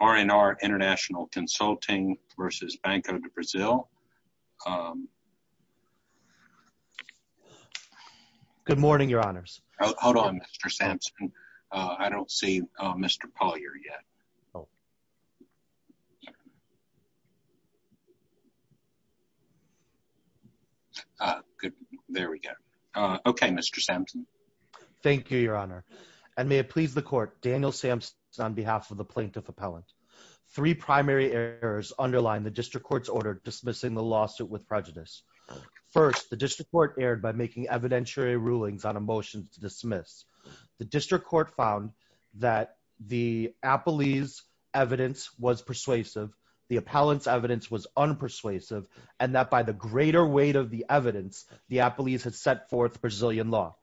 R&R International Consulting versus Banco Do Brasil. Good morning, your honors. Hold on, Mr. Sampson. I don't see Mr. Polyer yet. There we go. Okay, Mr. Sampson. Thank you, your honor. And may it please the court, Daniel Sampson on behalf of the plaintiff appellant. Three primary errors underline the district court's order dismissing the lawsuit with prejudice. First, the district court erred by making evidentiary rulings on a motion to dismiss. The district court found that the appellee's evidence was persuasive, the appellant's evidence was unpersuasive, and that by the greater weight of the evidence, the appellees had set forth Brazilian law.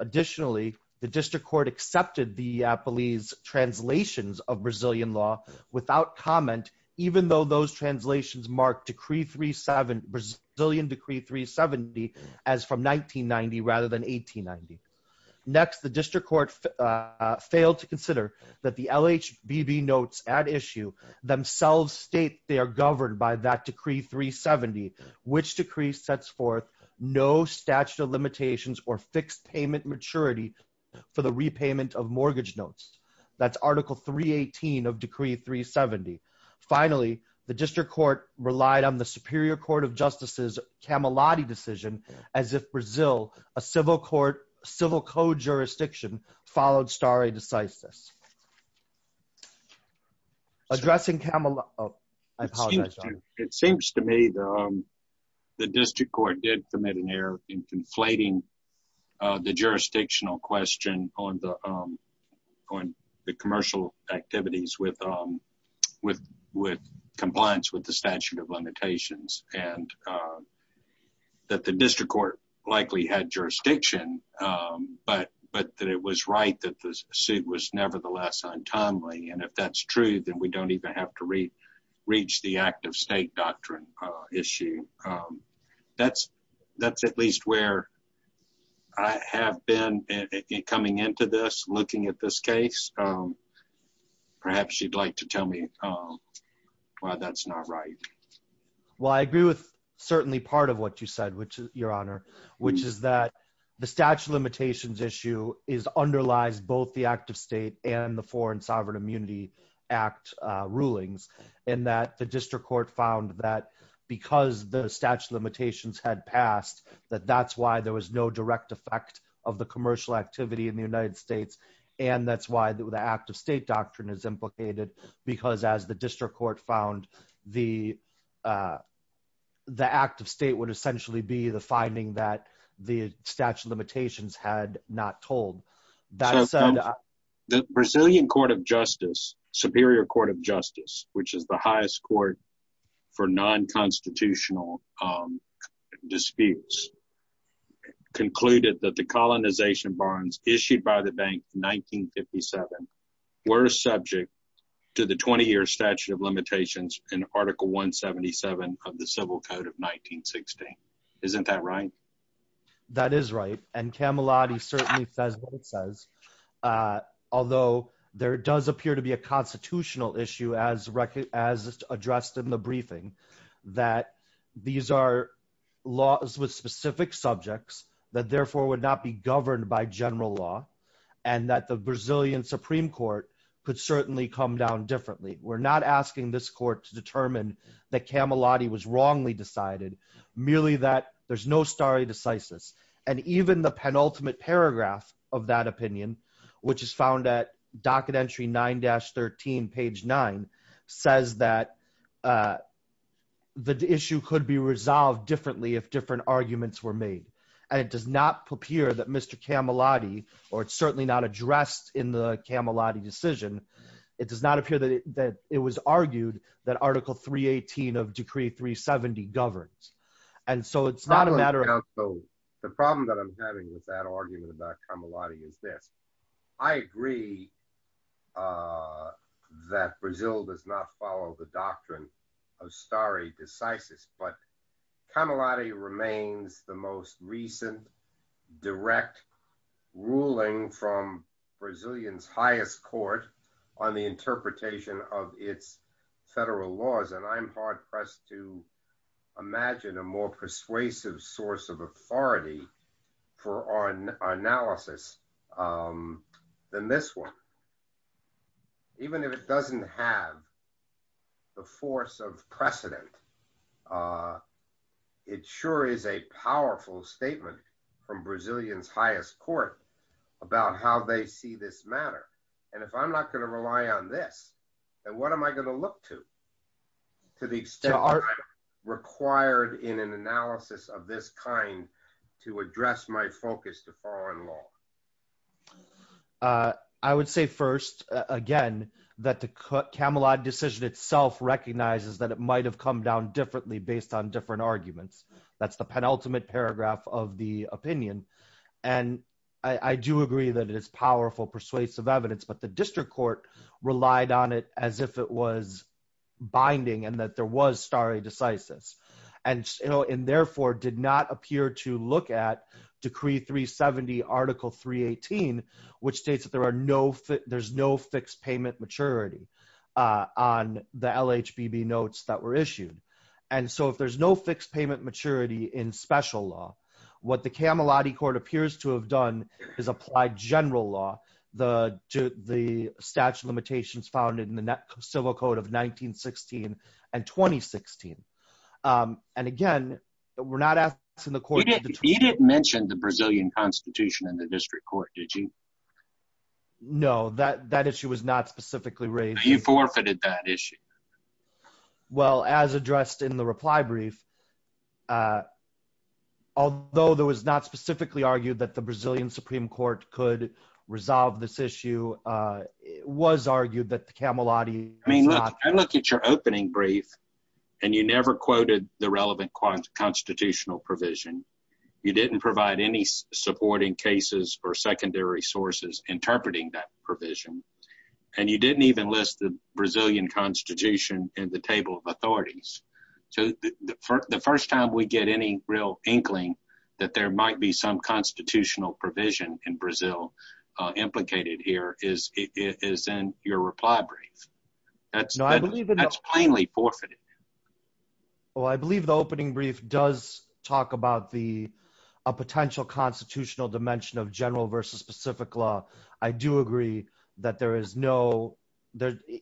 Additionally, the district court accepted the appellee's translations of Brazilian law without comment, even though those translations marked Brazilian decree 370 as from 1990 rather than 1890. Next, the district court failed to consider that the LHBB notes at issue themselves state they are governed by that decree 370, which decree sets forth no statute of limitations or fixed payment maturity for the repayment of mortgage notes. That's article 318 of decree 370. Finally, the district court relied on the superior court of justices Camelotti decision as if Brazil, a civil court, civil code jurisdiction, followed stare decisis. Addressing Camelotti, I apologize, your honor. It seems to me the district court did commit an error in conflating the jurisdictional question on the commercial activities with compliance with the statute of limitations, and that the district court likely had jurisdiction, but that it was right that the suit was nevertheless untimely, and if that's true, then we don't even have to reach the act of state doctrine issue. That's at least where I have been coming into this, looking at this case. Perhaps you'd like to tell me why that's not right. Well, I agree with certainly part of what you said, which is your honor, which is that the statute of limitations issue is underlies both the act of state and the foreign sovereign immunity act rulings, and that the district court found that because the statute of limitations had passed, that that's why there was no direct effect of the commercial activity in the United States, and that's why the act of state doctrine is implicated, because as the district court found the act of state would essentially be the finding that the statute of limitations had not told. So the Brazilian court of justice, superior court of justice, which is the highest court for non-constitutional disputes, concluded that the colonization bonds issued by the bank in 1957 were subject to the 20-year statute of limitations in article 177 of the civil code of 1916. Isn't that right? That is right, and Camilotti certainly says what it says, although there does appear to be a constitutional issue as addressed in the briefing, that these are laws with specific subjects that therefore would not be governed by general law, and that the Brazilian supreme court could certainly come down differently. We're not asking this court to determine that Camilotti was wrongly decided, merely that there's no stare decisis, and even the penultimate paragraph of that opinion, which is found at docket entry 9-13, page 9, says that the issue could be resolved differently if different arguments were made, and it does not appear that Mr. Camilotti, or it's certainly not addressed in the Camilotti decision, it does not appear that the 18 of decree 370 governs, and so it's not a matter of... The problem that I'm having with that argument about Camilotti is this, I agree that Brazil does not follow the doctrine of stare decisis, but Camilotti remains the most recent, direct ruling from Brazil's highest court on the interpretation of its federal laws, and I'm hard-pressed to imagine a more persuasive source of authority for our analysis than this one. Even if it doesn't have the force of precedent, it sure is a powerful statement from Brazil's highest court about how they see this matter, and if I'm not going to rely on this, then what am I going to look to, to the extent that I'm required in an analysis of this kind to address my focus to foreign law? I would say first, again, that the Camilotti decision itself recognizes that it might have come down differently based on different arguments. That's the penultimate paragraph of the opinion, and I do agree that it is powerful, persuasive evidence, but the district court relied on it as if it was binding and that there was stare decisis, and therefore did not appear to look at Decree 370, Article 318, which states that there's no fixed payment maturity on the LHBB notes that were issued, and so if there's no fixed payment maturity in special law, what the Camilotti court appears to have done is apply general law, the statute of limitations found in the civil code of 1916 and 2016, and again, we're not asking the court... You didn't mention the Brazilian constitution in the district court, did you? No, that issue was not specifically raised. You forfeited that issue. Well, as addressed in the reply brief, although there was not specifically argued that the issue was argued that the Camilotti... I mean, look, I look at your opening brief and you never quoted the relevant constitutional provision. You didn't provide any supporting cases or secondary sources interpreting that provision, and you didn't even list the Brazilian constitution in the table of authorities, so the first time we get any real inkling that there might be some complicated here is in your reply brief. That's plainly forfeited. Well, I believe the opening brief does talk about a potential constitutional dimension of general versus specific law. I do agree that there is no...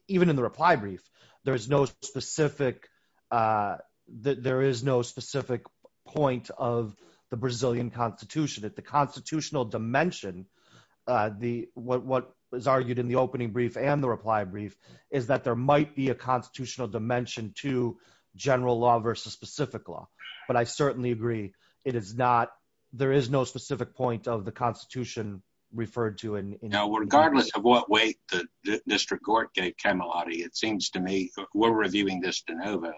Even in the reply brief, there is no specific that there is no specific point of the Brazilian constitution. At the constitutional dimension, what was argued in the opening brief and the reply brief is that there might be a constitutional dimension to general law versus specific law, but I certainly agree it is not... There is no specific point of the constitution referred to in... Now, regardless of what way the district Camilotti, it seems to me... We're reviewing this de novo.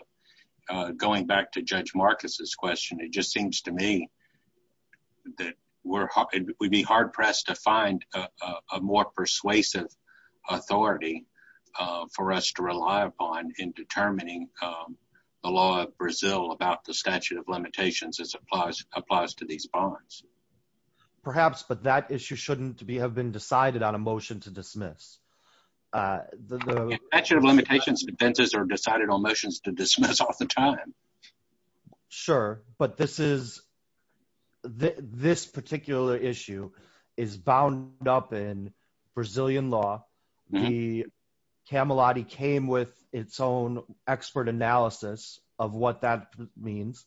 Going back to Judge Marcus's question, it just seems to me that we'd be hard-pressed to find a more persuasive authority for us to rely upon in determining the law of Brazil about the statute of limitations as applies to these bonds. Perhaps, but that issue shouldn't have been decided on a motion to dismiss. The statute of limitations defenses are decided on motions to dismiss off the time. Sure, but this particular issue is bound up in Brazilian law. The Camilotti came with its own expert analysis of what that means.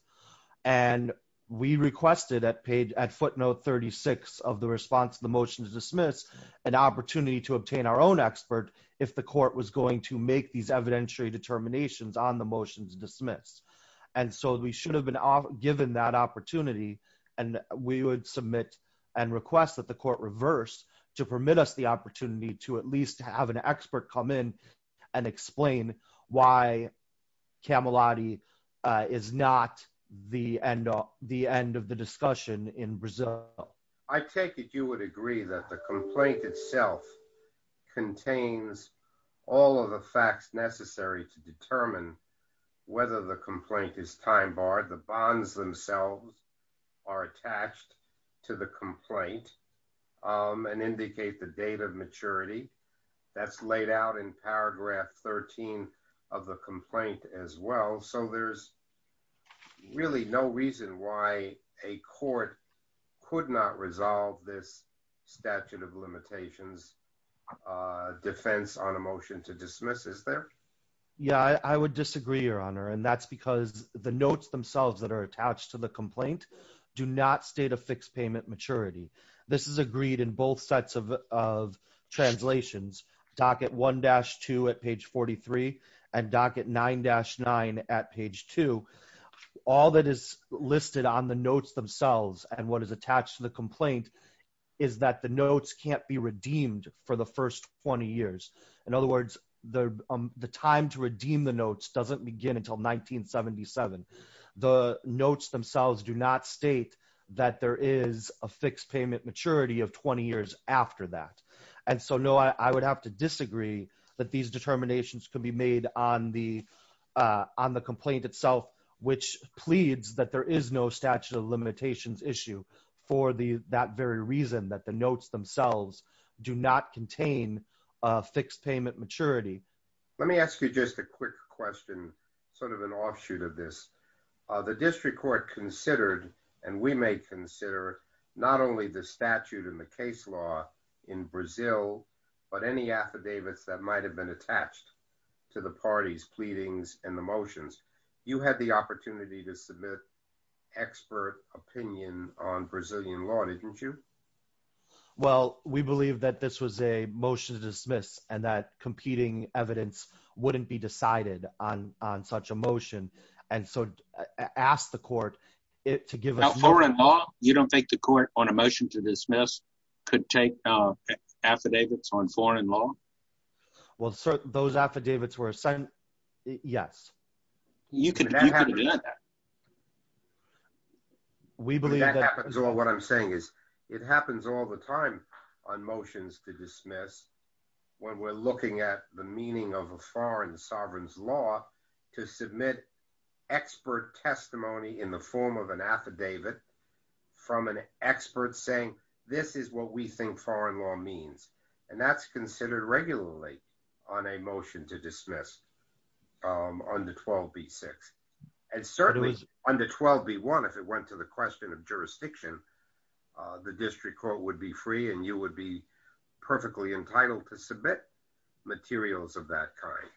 We requested at footnote 36 of the response to the motion to dismiss an opportunity to obtain our own expert if the court was going to make these evidentiary determinations on the motions to dismiss. We should have been given that opportunity and we would submit and request that the court reverse to permit us the opportunity to at least have an expert come in and explain why Camilotti is not the end of the discussion in Brazil. I take it you would agree that the complaint itself contains all of the facts necessary to determine whether the complaint is time barred. The bonds themselves are attached to the complaint and indicate the date of maturity that's laid out in paragraph 13 of the complaint as well. So there's really no reason why a court could not resolve this statute of limitations defense on a motion to dismiss. Is there? Yeah, I would disagree your honor and that's because the notes themselves that are attached to the complaint do not state a fixed payment maturity. This is agreed in both sets of translations docket 1-2 at page 43 and docket 9-9 at page 2. All that is listed on the notes themselves and what is attached to the complaint is that the notes can't be redeemed for the first 20 years. In other words, the time to redeem the maturity of 20 years after that. And so no, I would have to disagree that these determinations could be made on the complaint itself, which pleads that there is no statute of limitations issue for that very reason that the notes themselves do not contain a fixed payment maturity. Let me ask you just a quick question, sort of an offshoot of this. The district court considered and we may consider not only the statute in the case law in Brazil, but any affidavits that might have been attached to the parties pleadings and the motions. You had the opportunity to submit expert opinion on Brazilian law, didn't you? Well, we believe that this was a motion to dismiss and competing evidence wouldn't be decided on such a motion. And so I asked the court it to give a foreign law. You don't think the court on a motion to dismiss could take affidavits on foreign law? Well, those affidavits were assigned. Yes, you can. We believe that is all what I'm saying is it happens all the time on motions to dismiss when we're looking at the meaning of a foreign sovereign's law to submit expert testimony in the form of an affidavit from an expert saying this is what we think foreign law means. And that's considered regularly on a motion to dismiss under 12B6. And certainly under 12B1, if it went to the question of jurisdiction, the district court would be free and you would be entitled to submit materials of that kind.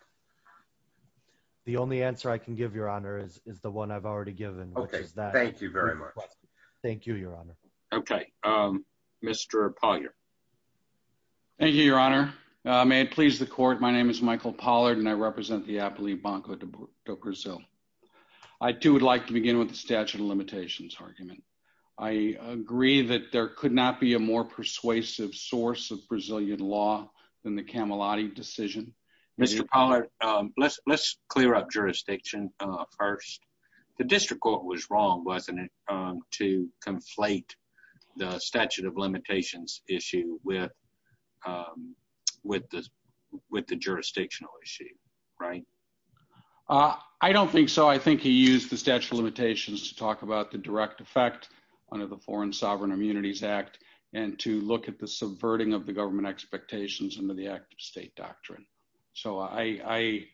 The only answer I can give, Your Honor, is the one I've already given. Okay. Thank you very much. Thank you, Your Honor. Okay. Mr. Pollard. Thank you, Your Honor. May it please the court. My name is Michael Pollard, and I represent the Apelio Banco do Brasil. I too would like to begin with the statute of limitations argument. I agree that there could not be a more persuasive source of Brazilian law than the Camelotti decision. Mr. Pollard, let's clear up jurisdiction first. The district court was wrong, wasn't it, to conflate the statute of limitations issue with the jurisdictional issue, right? I don't think so. I think he used the statute of limitations to talk about the direct effect under the Foreign Sovereign Immunities Act and to look at the subverting of the government expectations under the Act of State doctrine. So I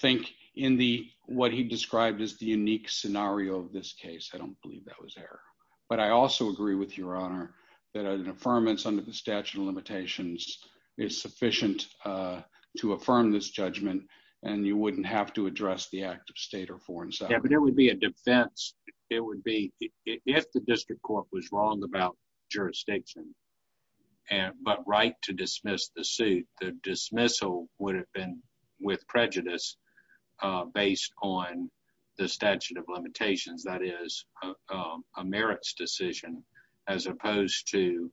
think in what he described as the unique scenario of this case, I don't believe that was error. But I also agree with Your Honor that an affirmance under the statute of limitations is sufficient to affirm this judgment, and you wouldn't have to address the Act of State or Foreign Sovereign Immunities Act. Yeah, but there would be a defense. It would be, if the district court was wrong about jurisdiction but right to dismiss the suit, the dismissal would have been with prejudice based on the statute of limitations, that is, a merits decision as opposed to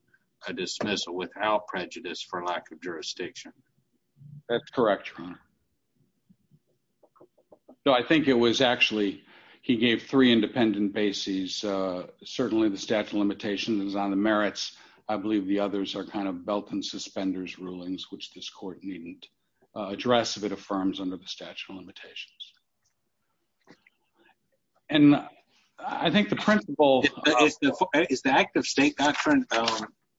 a dismissal without prejudice for lack of jurisdiction. That's correct, Your Honor. No, I think it was actually, he gave three independent bases. Certainly the statute of limitations is on the merits. I believe the others are kind of belt and suspenders rulings, which this court needn't address if it affirms under the statute of limitations. And I think the principle of- Is the Act of State doctrine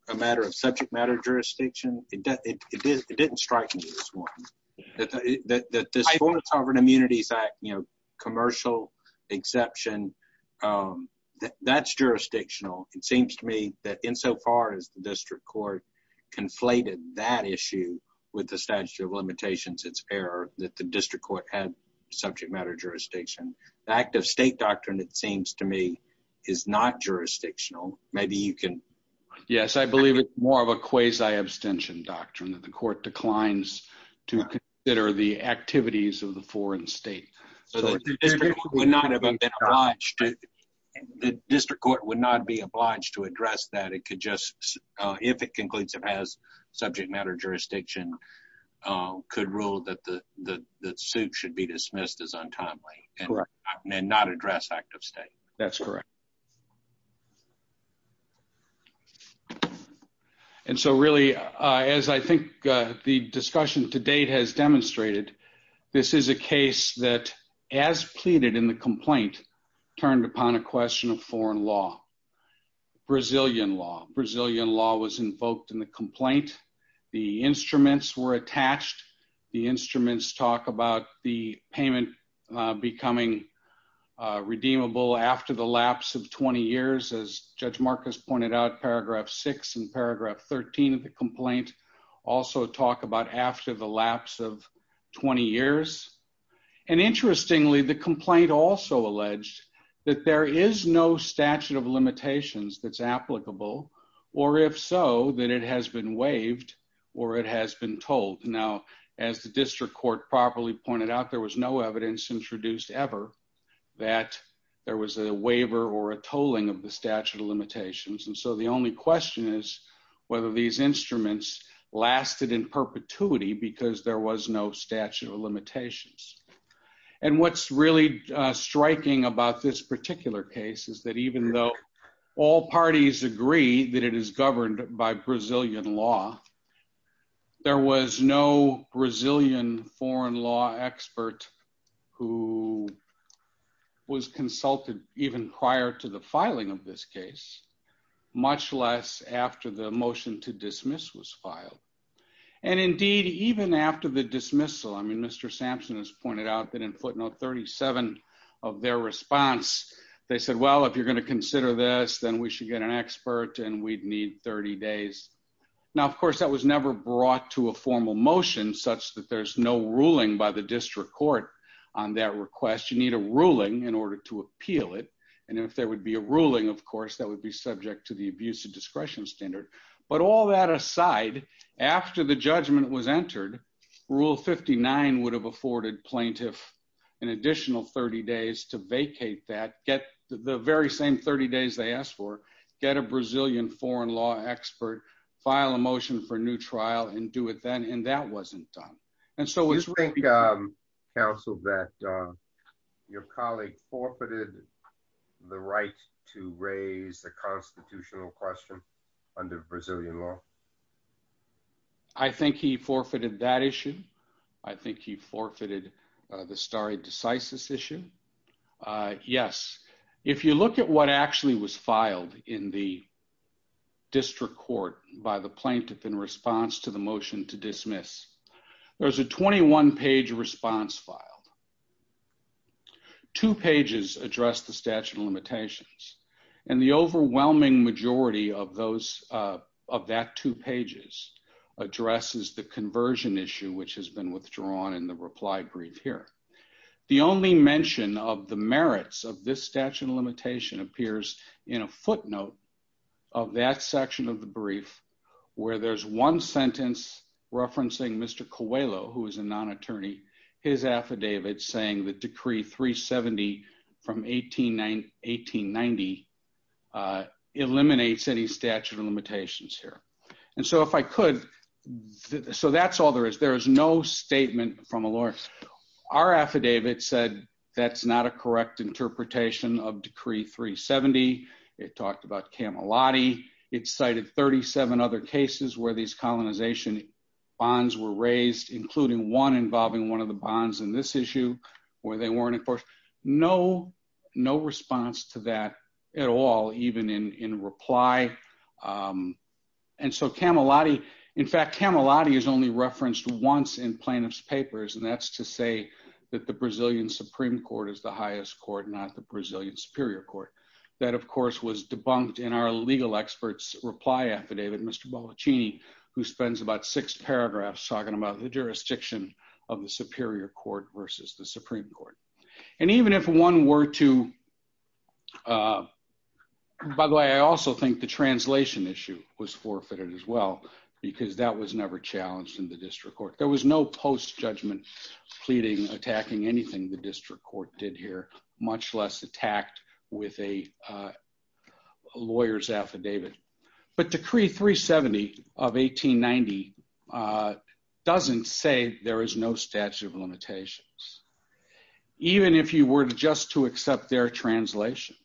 a matter of subject matter jurisdiction? It didn't strike me as one. That this Foreign Sovereign Immunities Act, commercial exception, that's jurisdictional. It seems to me that insofar as the district court conflated that issue with the statute of limitations, it's fair that the district court had subject matter jurisdiction. The Act of State doctrine, it seems to me, is not jurisdictional. Maybe you can- Yes, I believe it's more of a quasi-abstention doctrine that the court declines to consider the activities of the foreign state. The district court would not be obliged to address that. It could just, if it concludes it has subject matter jurisdiction, could rule that the suit should be dismissed as untimely and not address Act of State. That's correct. And so really, as I think the discussion to date has demonstrated, this is a case that, as pleaded in the complaint, turned upon a question of foreign law. Brazilian law. Brazilian law was invoked in the complaint. The instruments were attached. The instruments talk about the 20 years, as Judge Marcus pointed out, paragraph 6 and paragraph 13 of the complaint also talk about after the lapse of 20 years. And interestingly, the complaint also alleged that there is no statute of limitations that's applicable, or if so, that it has been waived or it has been told. Now, as the district court properly pointed out, there was no evidence introduced ever that there was a waiver or a tolling of the statute of limitations. And so, the only question is whether these instruments lasted in perpetuity because there was no statute of limitations. And what's really striking about this particular case is that even though all parties agree that it is governed by Brazilian law, there was no Brazilian foreign law expert who was consulted even prior to the filing of this case, much less after the motion to dismiss was filed. And indeed, even after the dismissal, I mean, Mr. Sampson has pointed out that in footnote 37 of their response, they said, well, if you're going to consider this, then we should get an expert and we'd need 30 days. Now, of course, that was never brought to a formal motion such that there's no ruling by the district court on that request. You need a ruling in order to appeal it. And if there would be a ruling, of course, that would be subject to the abuse of discretion standard. But all that aside, after the judgment was entered, rule 59 would have afforded plaintiff an additional 30 days to vacate that, get the very same 30 days they asked for, get a Brazilian foreign law expert, file a motion for new trial and do it then. And that wasn't done. Do you think, counsel, that your colleague forfeited the right to raise a constitutional question under Brazilian law? I think he forfeited that issue. I think he forfeited the stare decisis issue. Yes. If you look at what actually was filed in the district court by the plaintiff in response to the motion to dismiss, there's a 21-page response filed. Two pages address the statute of limitations. And the overwhelming majority of that two pages addresses the conversion issue, which has been withdrawn in the reply brief here. The only mention of the merits of this statute of limitation appears in a footnote of that section of the brief where there's one sentence referencing Mr. Coelho, who is a non-attorney, his affidavit saying that decree 370 from 1890 eliminates any statute of limitations here. And so if I could, so that's all there is. There is no statement from a lawyer. Our affidavit said that's not a correct interpretation of decree 370. It talked about Camelotti. It cited 37 other cases where these colonization bonds were raised, including one involving one of the bonds in this Camelotti. In fact, Camelotti is only referenced once in plaintiff's papers, and that's to say that the Brazilian Supreme Court is the highest court, not the Brazilian Superior Court. That, of course, was debunked in our legal experts reply affidavit, Mr. Bollaccini, who spends about six paragraphs talking about the jurisdiction of the Superior Court versus the Supreme Court. And even if one were to, uh, by the way, I also think the translation issue was forfeited as well because that was never challenged in the district court. There was no post-judgment pleading attacking anything the district court did here, much less attacked with a lawyer's affidavit. But decree 370 of 1890 uh doesn't say there is no statute of limitations. Even if you were just to accept their translation,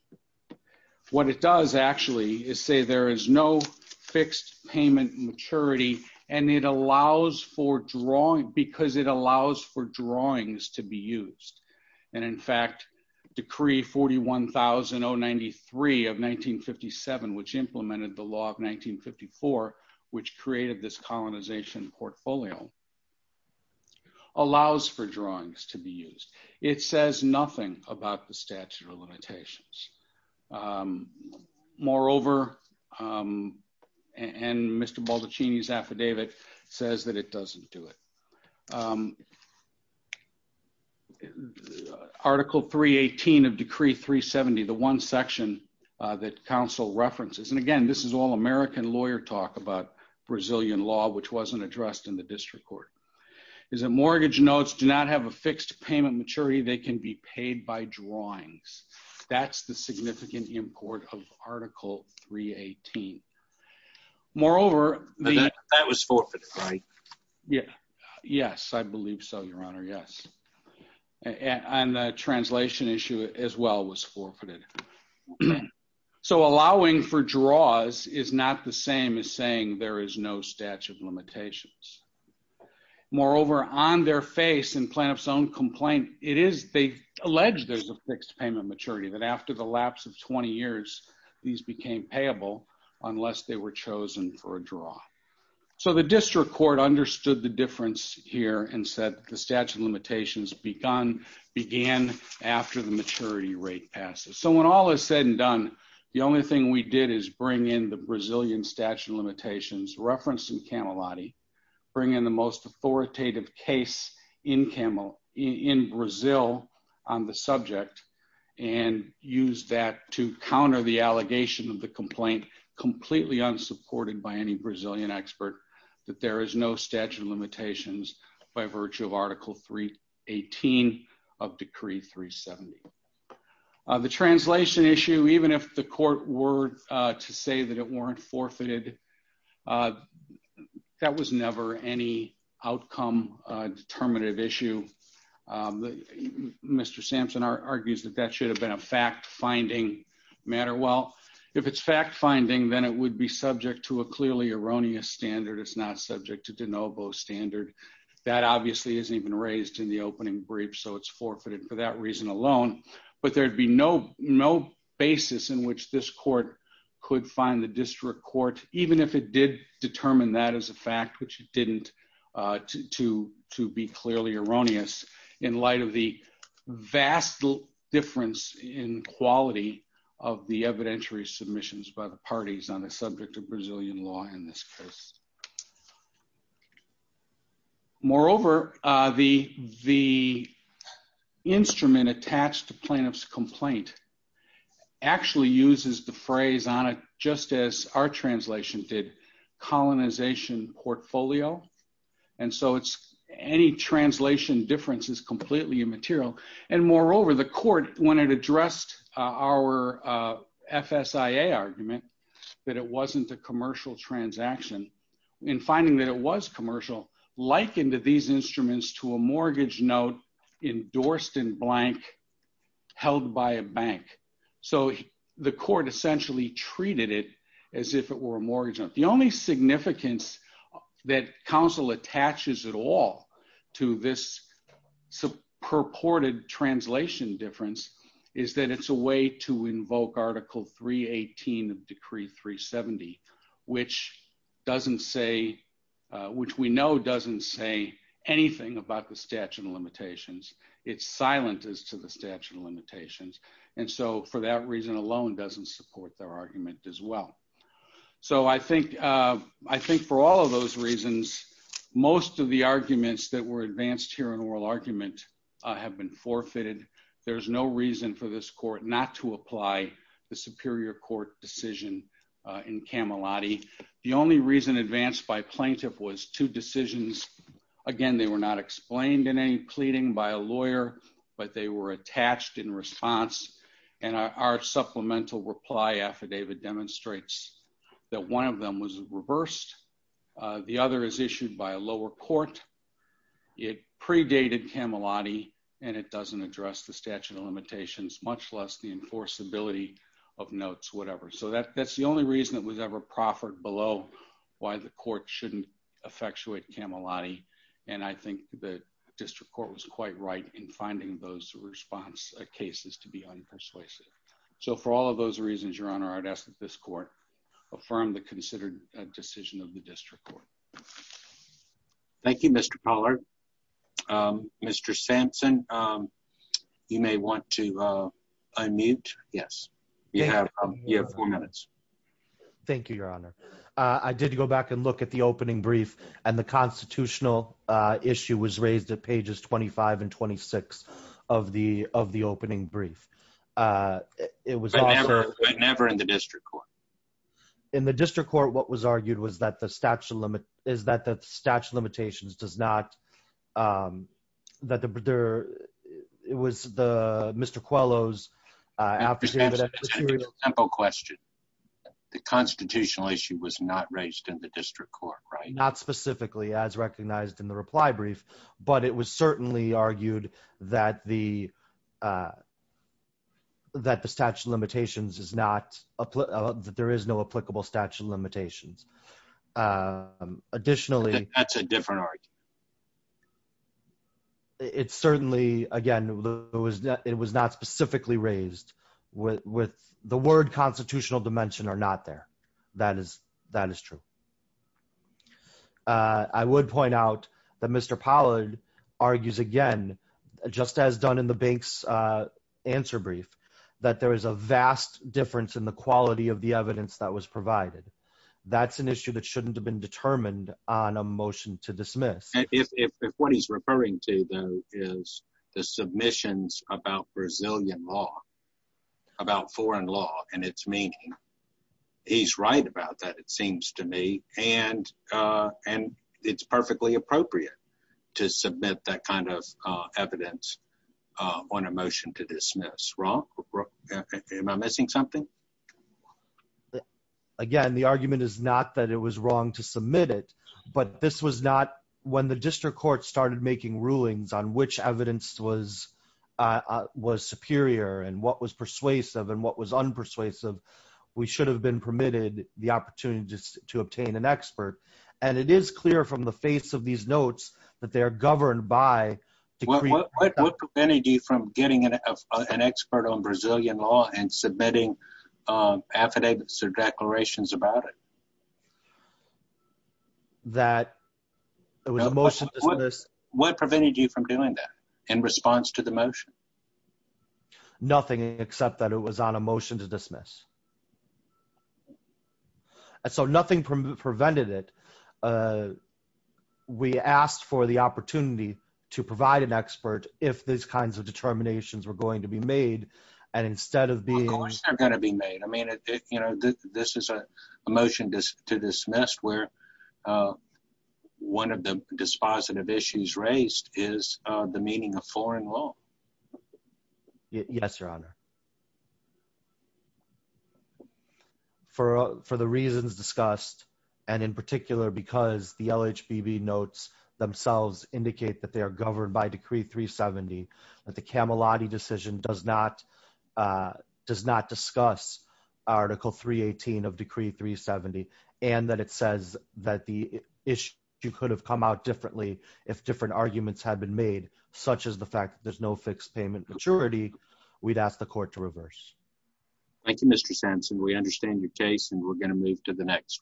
what it does actually is say there is no fixed payment maturity and it allows for drawing because it allows for drawings to be used. And in fact, decree 41093 of 1957, which implemented the law of 1954, which created this colonization portfolio, allows for drawings to be used. It says nothing about the statute of limitations. Moreover, um, and Mr. Bollaccini's affidavit says that it doesn't do it. Um, article 318 of decree 370, the one section, uh, that council references. And again, this is all American lawyer talk about Brazilian law, which wasn't addressed in the district court is that mortgage notes do not have a fixed payment maturity. They can be paid by drawings. That's the significant import of article 318. Moreover, that was forfeit, right? Yeah. Yes. I believe so, your honor. Yes. And the translation issue as well was forfeited. So allowing for draws is not the same as saying there is no statute of limitations. Moreover, on their face and plaintiff's own complaint, it is they allege there's a fixed payment maturity that after the lapse of 20 years, these became payable unless they were chosen for draw. So the district court understood the difference here and said the statute of limitations began after the maturity rate passes. So when all is said and done, the only thing we did is bring in the Brazilian statute of limitations referenced in Camelotti, bring in the most authoritative case in Brazil on the subject and use that to counter the allegation of the complaint, completely unsupported by any Brazilian expert, that there is no statute of limitations by virtue of article 318 of decree 370. The translation issue, even if the court were to say that it weren't forfeited, that was never any outcome determinative issue. Mr. Sampson argues that that should have been a fact-finding matter. Well, if it's fact-finding, then it would be subject to a clearly erroneous standard. It's not subject to de novo standard. That obviously isn't even raised in the opening brief, so it's forfeited for that reason alone. But there'd be no basis in which this court could find the district court, even if it did determine that as a fact, which it in quality of the evidentiary submissions by the parties on the subject of Brazilian law in this case. Moreover, the instrument attached to plaintiff's complaint actually uses the phrase on it, just as our translation did, colonization portfolio. And so any translation difference is completely immaterial. And moreover, the court, when it addressed our FSIA argument, that it wasn't a commercial transaction, in finding that it was commercial, likened these instruments to a mortgage note endorsed in blank held by a bank. So the court essentially treated it as if it were a mortgage. The only significance that counsel attaches at all to this purported translation difference is that it's a way to invoke Article 318 of Decree 370, which doesn't say, which we know doesn't say anything about the statute of limitations. It's silent as to the statute of limitations. And so for that reason alone, doesn't support their argument as well. So I think for all of those reasons, most of the arguments that were argued have been forfeited. There's no reason for this court not to apply the Superior Court decision in Camelotti. The only reason advanced by plaintiff was two decisions. Again, they were not explained in any pleading by a lawyer, but they were attached in response. And our supplemental reply affidavit demonstrates that one of them was reversed. The other is issued by a lower court. It predated Camelotti, and it doesn't address the statute of limitations, much less the enforceability of notes, whatever. So that's the only reason that was ever proffered below why the court shouldn't effectuate Camelotti. And I think the district court was quite right in finding those response cases to be unpersuasive. So for all of those reasons, Your Honor, I'd ask that this court affirm the considered decision of the district court. Thank you, Mr. Pollard. Mr. Sampson, you may want to unmute. Yes, you have four minutes. Thank you, Your Honor. I did go back and look at the opening brief, and the constitutional issue was raised at pages 25 and 26 of the opening brief. But never in the district court? In the district court, what was argued is that the statute of limitations does not, it was Mr. Coelho's affidavit. Mr. Sampson, to take a tempo question, the constitutional issue was not raised in the district court, right? Not specifically, as recognized in the reply brief. But it was certainly argued that the is no applicable statute of limitations. Additionally, it's certainly, again, it was not specifically raised with the word constitutional dimension are not there. That is true. I would point out that Mr. Pollard argues again, just as done in the bank's answer brief, that there is a vast difference in the quality of the evidence that was provided. That's an issue that shouldn't have been determined on a motion to dismiss. If what he's referring to, though, is the submissions about Brazilian law, about foreign law and its meaning, he's right about that, it seems to me. And it's perfectly appropriate to submit that kind of evidence on a motion to dismiss. Am I missing something? Again, the argument is not that it was wrong to submit it. But this was not when the district court started making rulings on which evidence was superior and what was persuasive and what was unpersuasive. We should have been permitted the opportunity to obtain an expert. And it is clear from the face of these notes that they are governed by... What prevented you from getting an expert on Brazilian law and submitting affidavits or declarations about it? That it was a motion to dismiss... What prevented you from doing that in response to the motion? Nothing except that it was on a motion to dismiss. And so nothing prevented it. We asked for the opportunity to provide an expert if these kinds of determinations were going to be made. And instead of being... Of course, they're going to be made. I mean, this is a motion to dismiss where one of the dispositive issues raised is the meaning of foreign law. Yes, Your Honor. For the reasons discussed, and in particular, because the LHBB notes themselves indicate that they are governed by Decree 370, that the Camelotti decision does not discuss Article 318 of Decree 370, and that it says that the issue could have come out differently if different arguments had been made, such as the fact that there's no fixed payment maturity, we'd ask the court to dismiss to reverse. Thank you, Mr. Sampson. We understand your case, and we're going to move to the next one.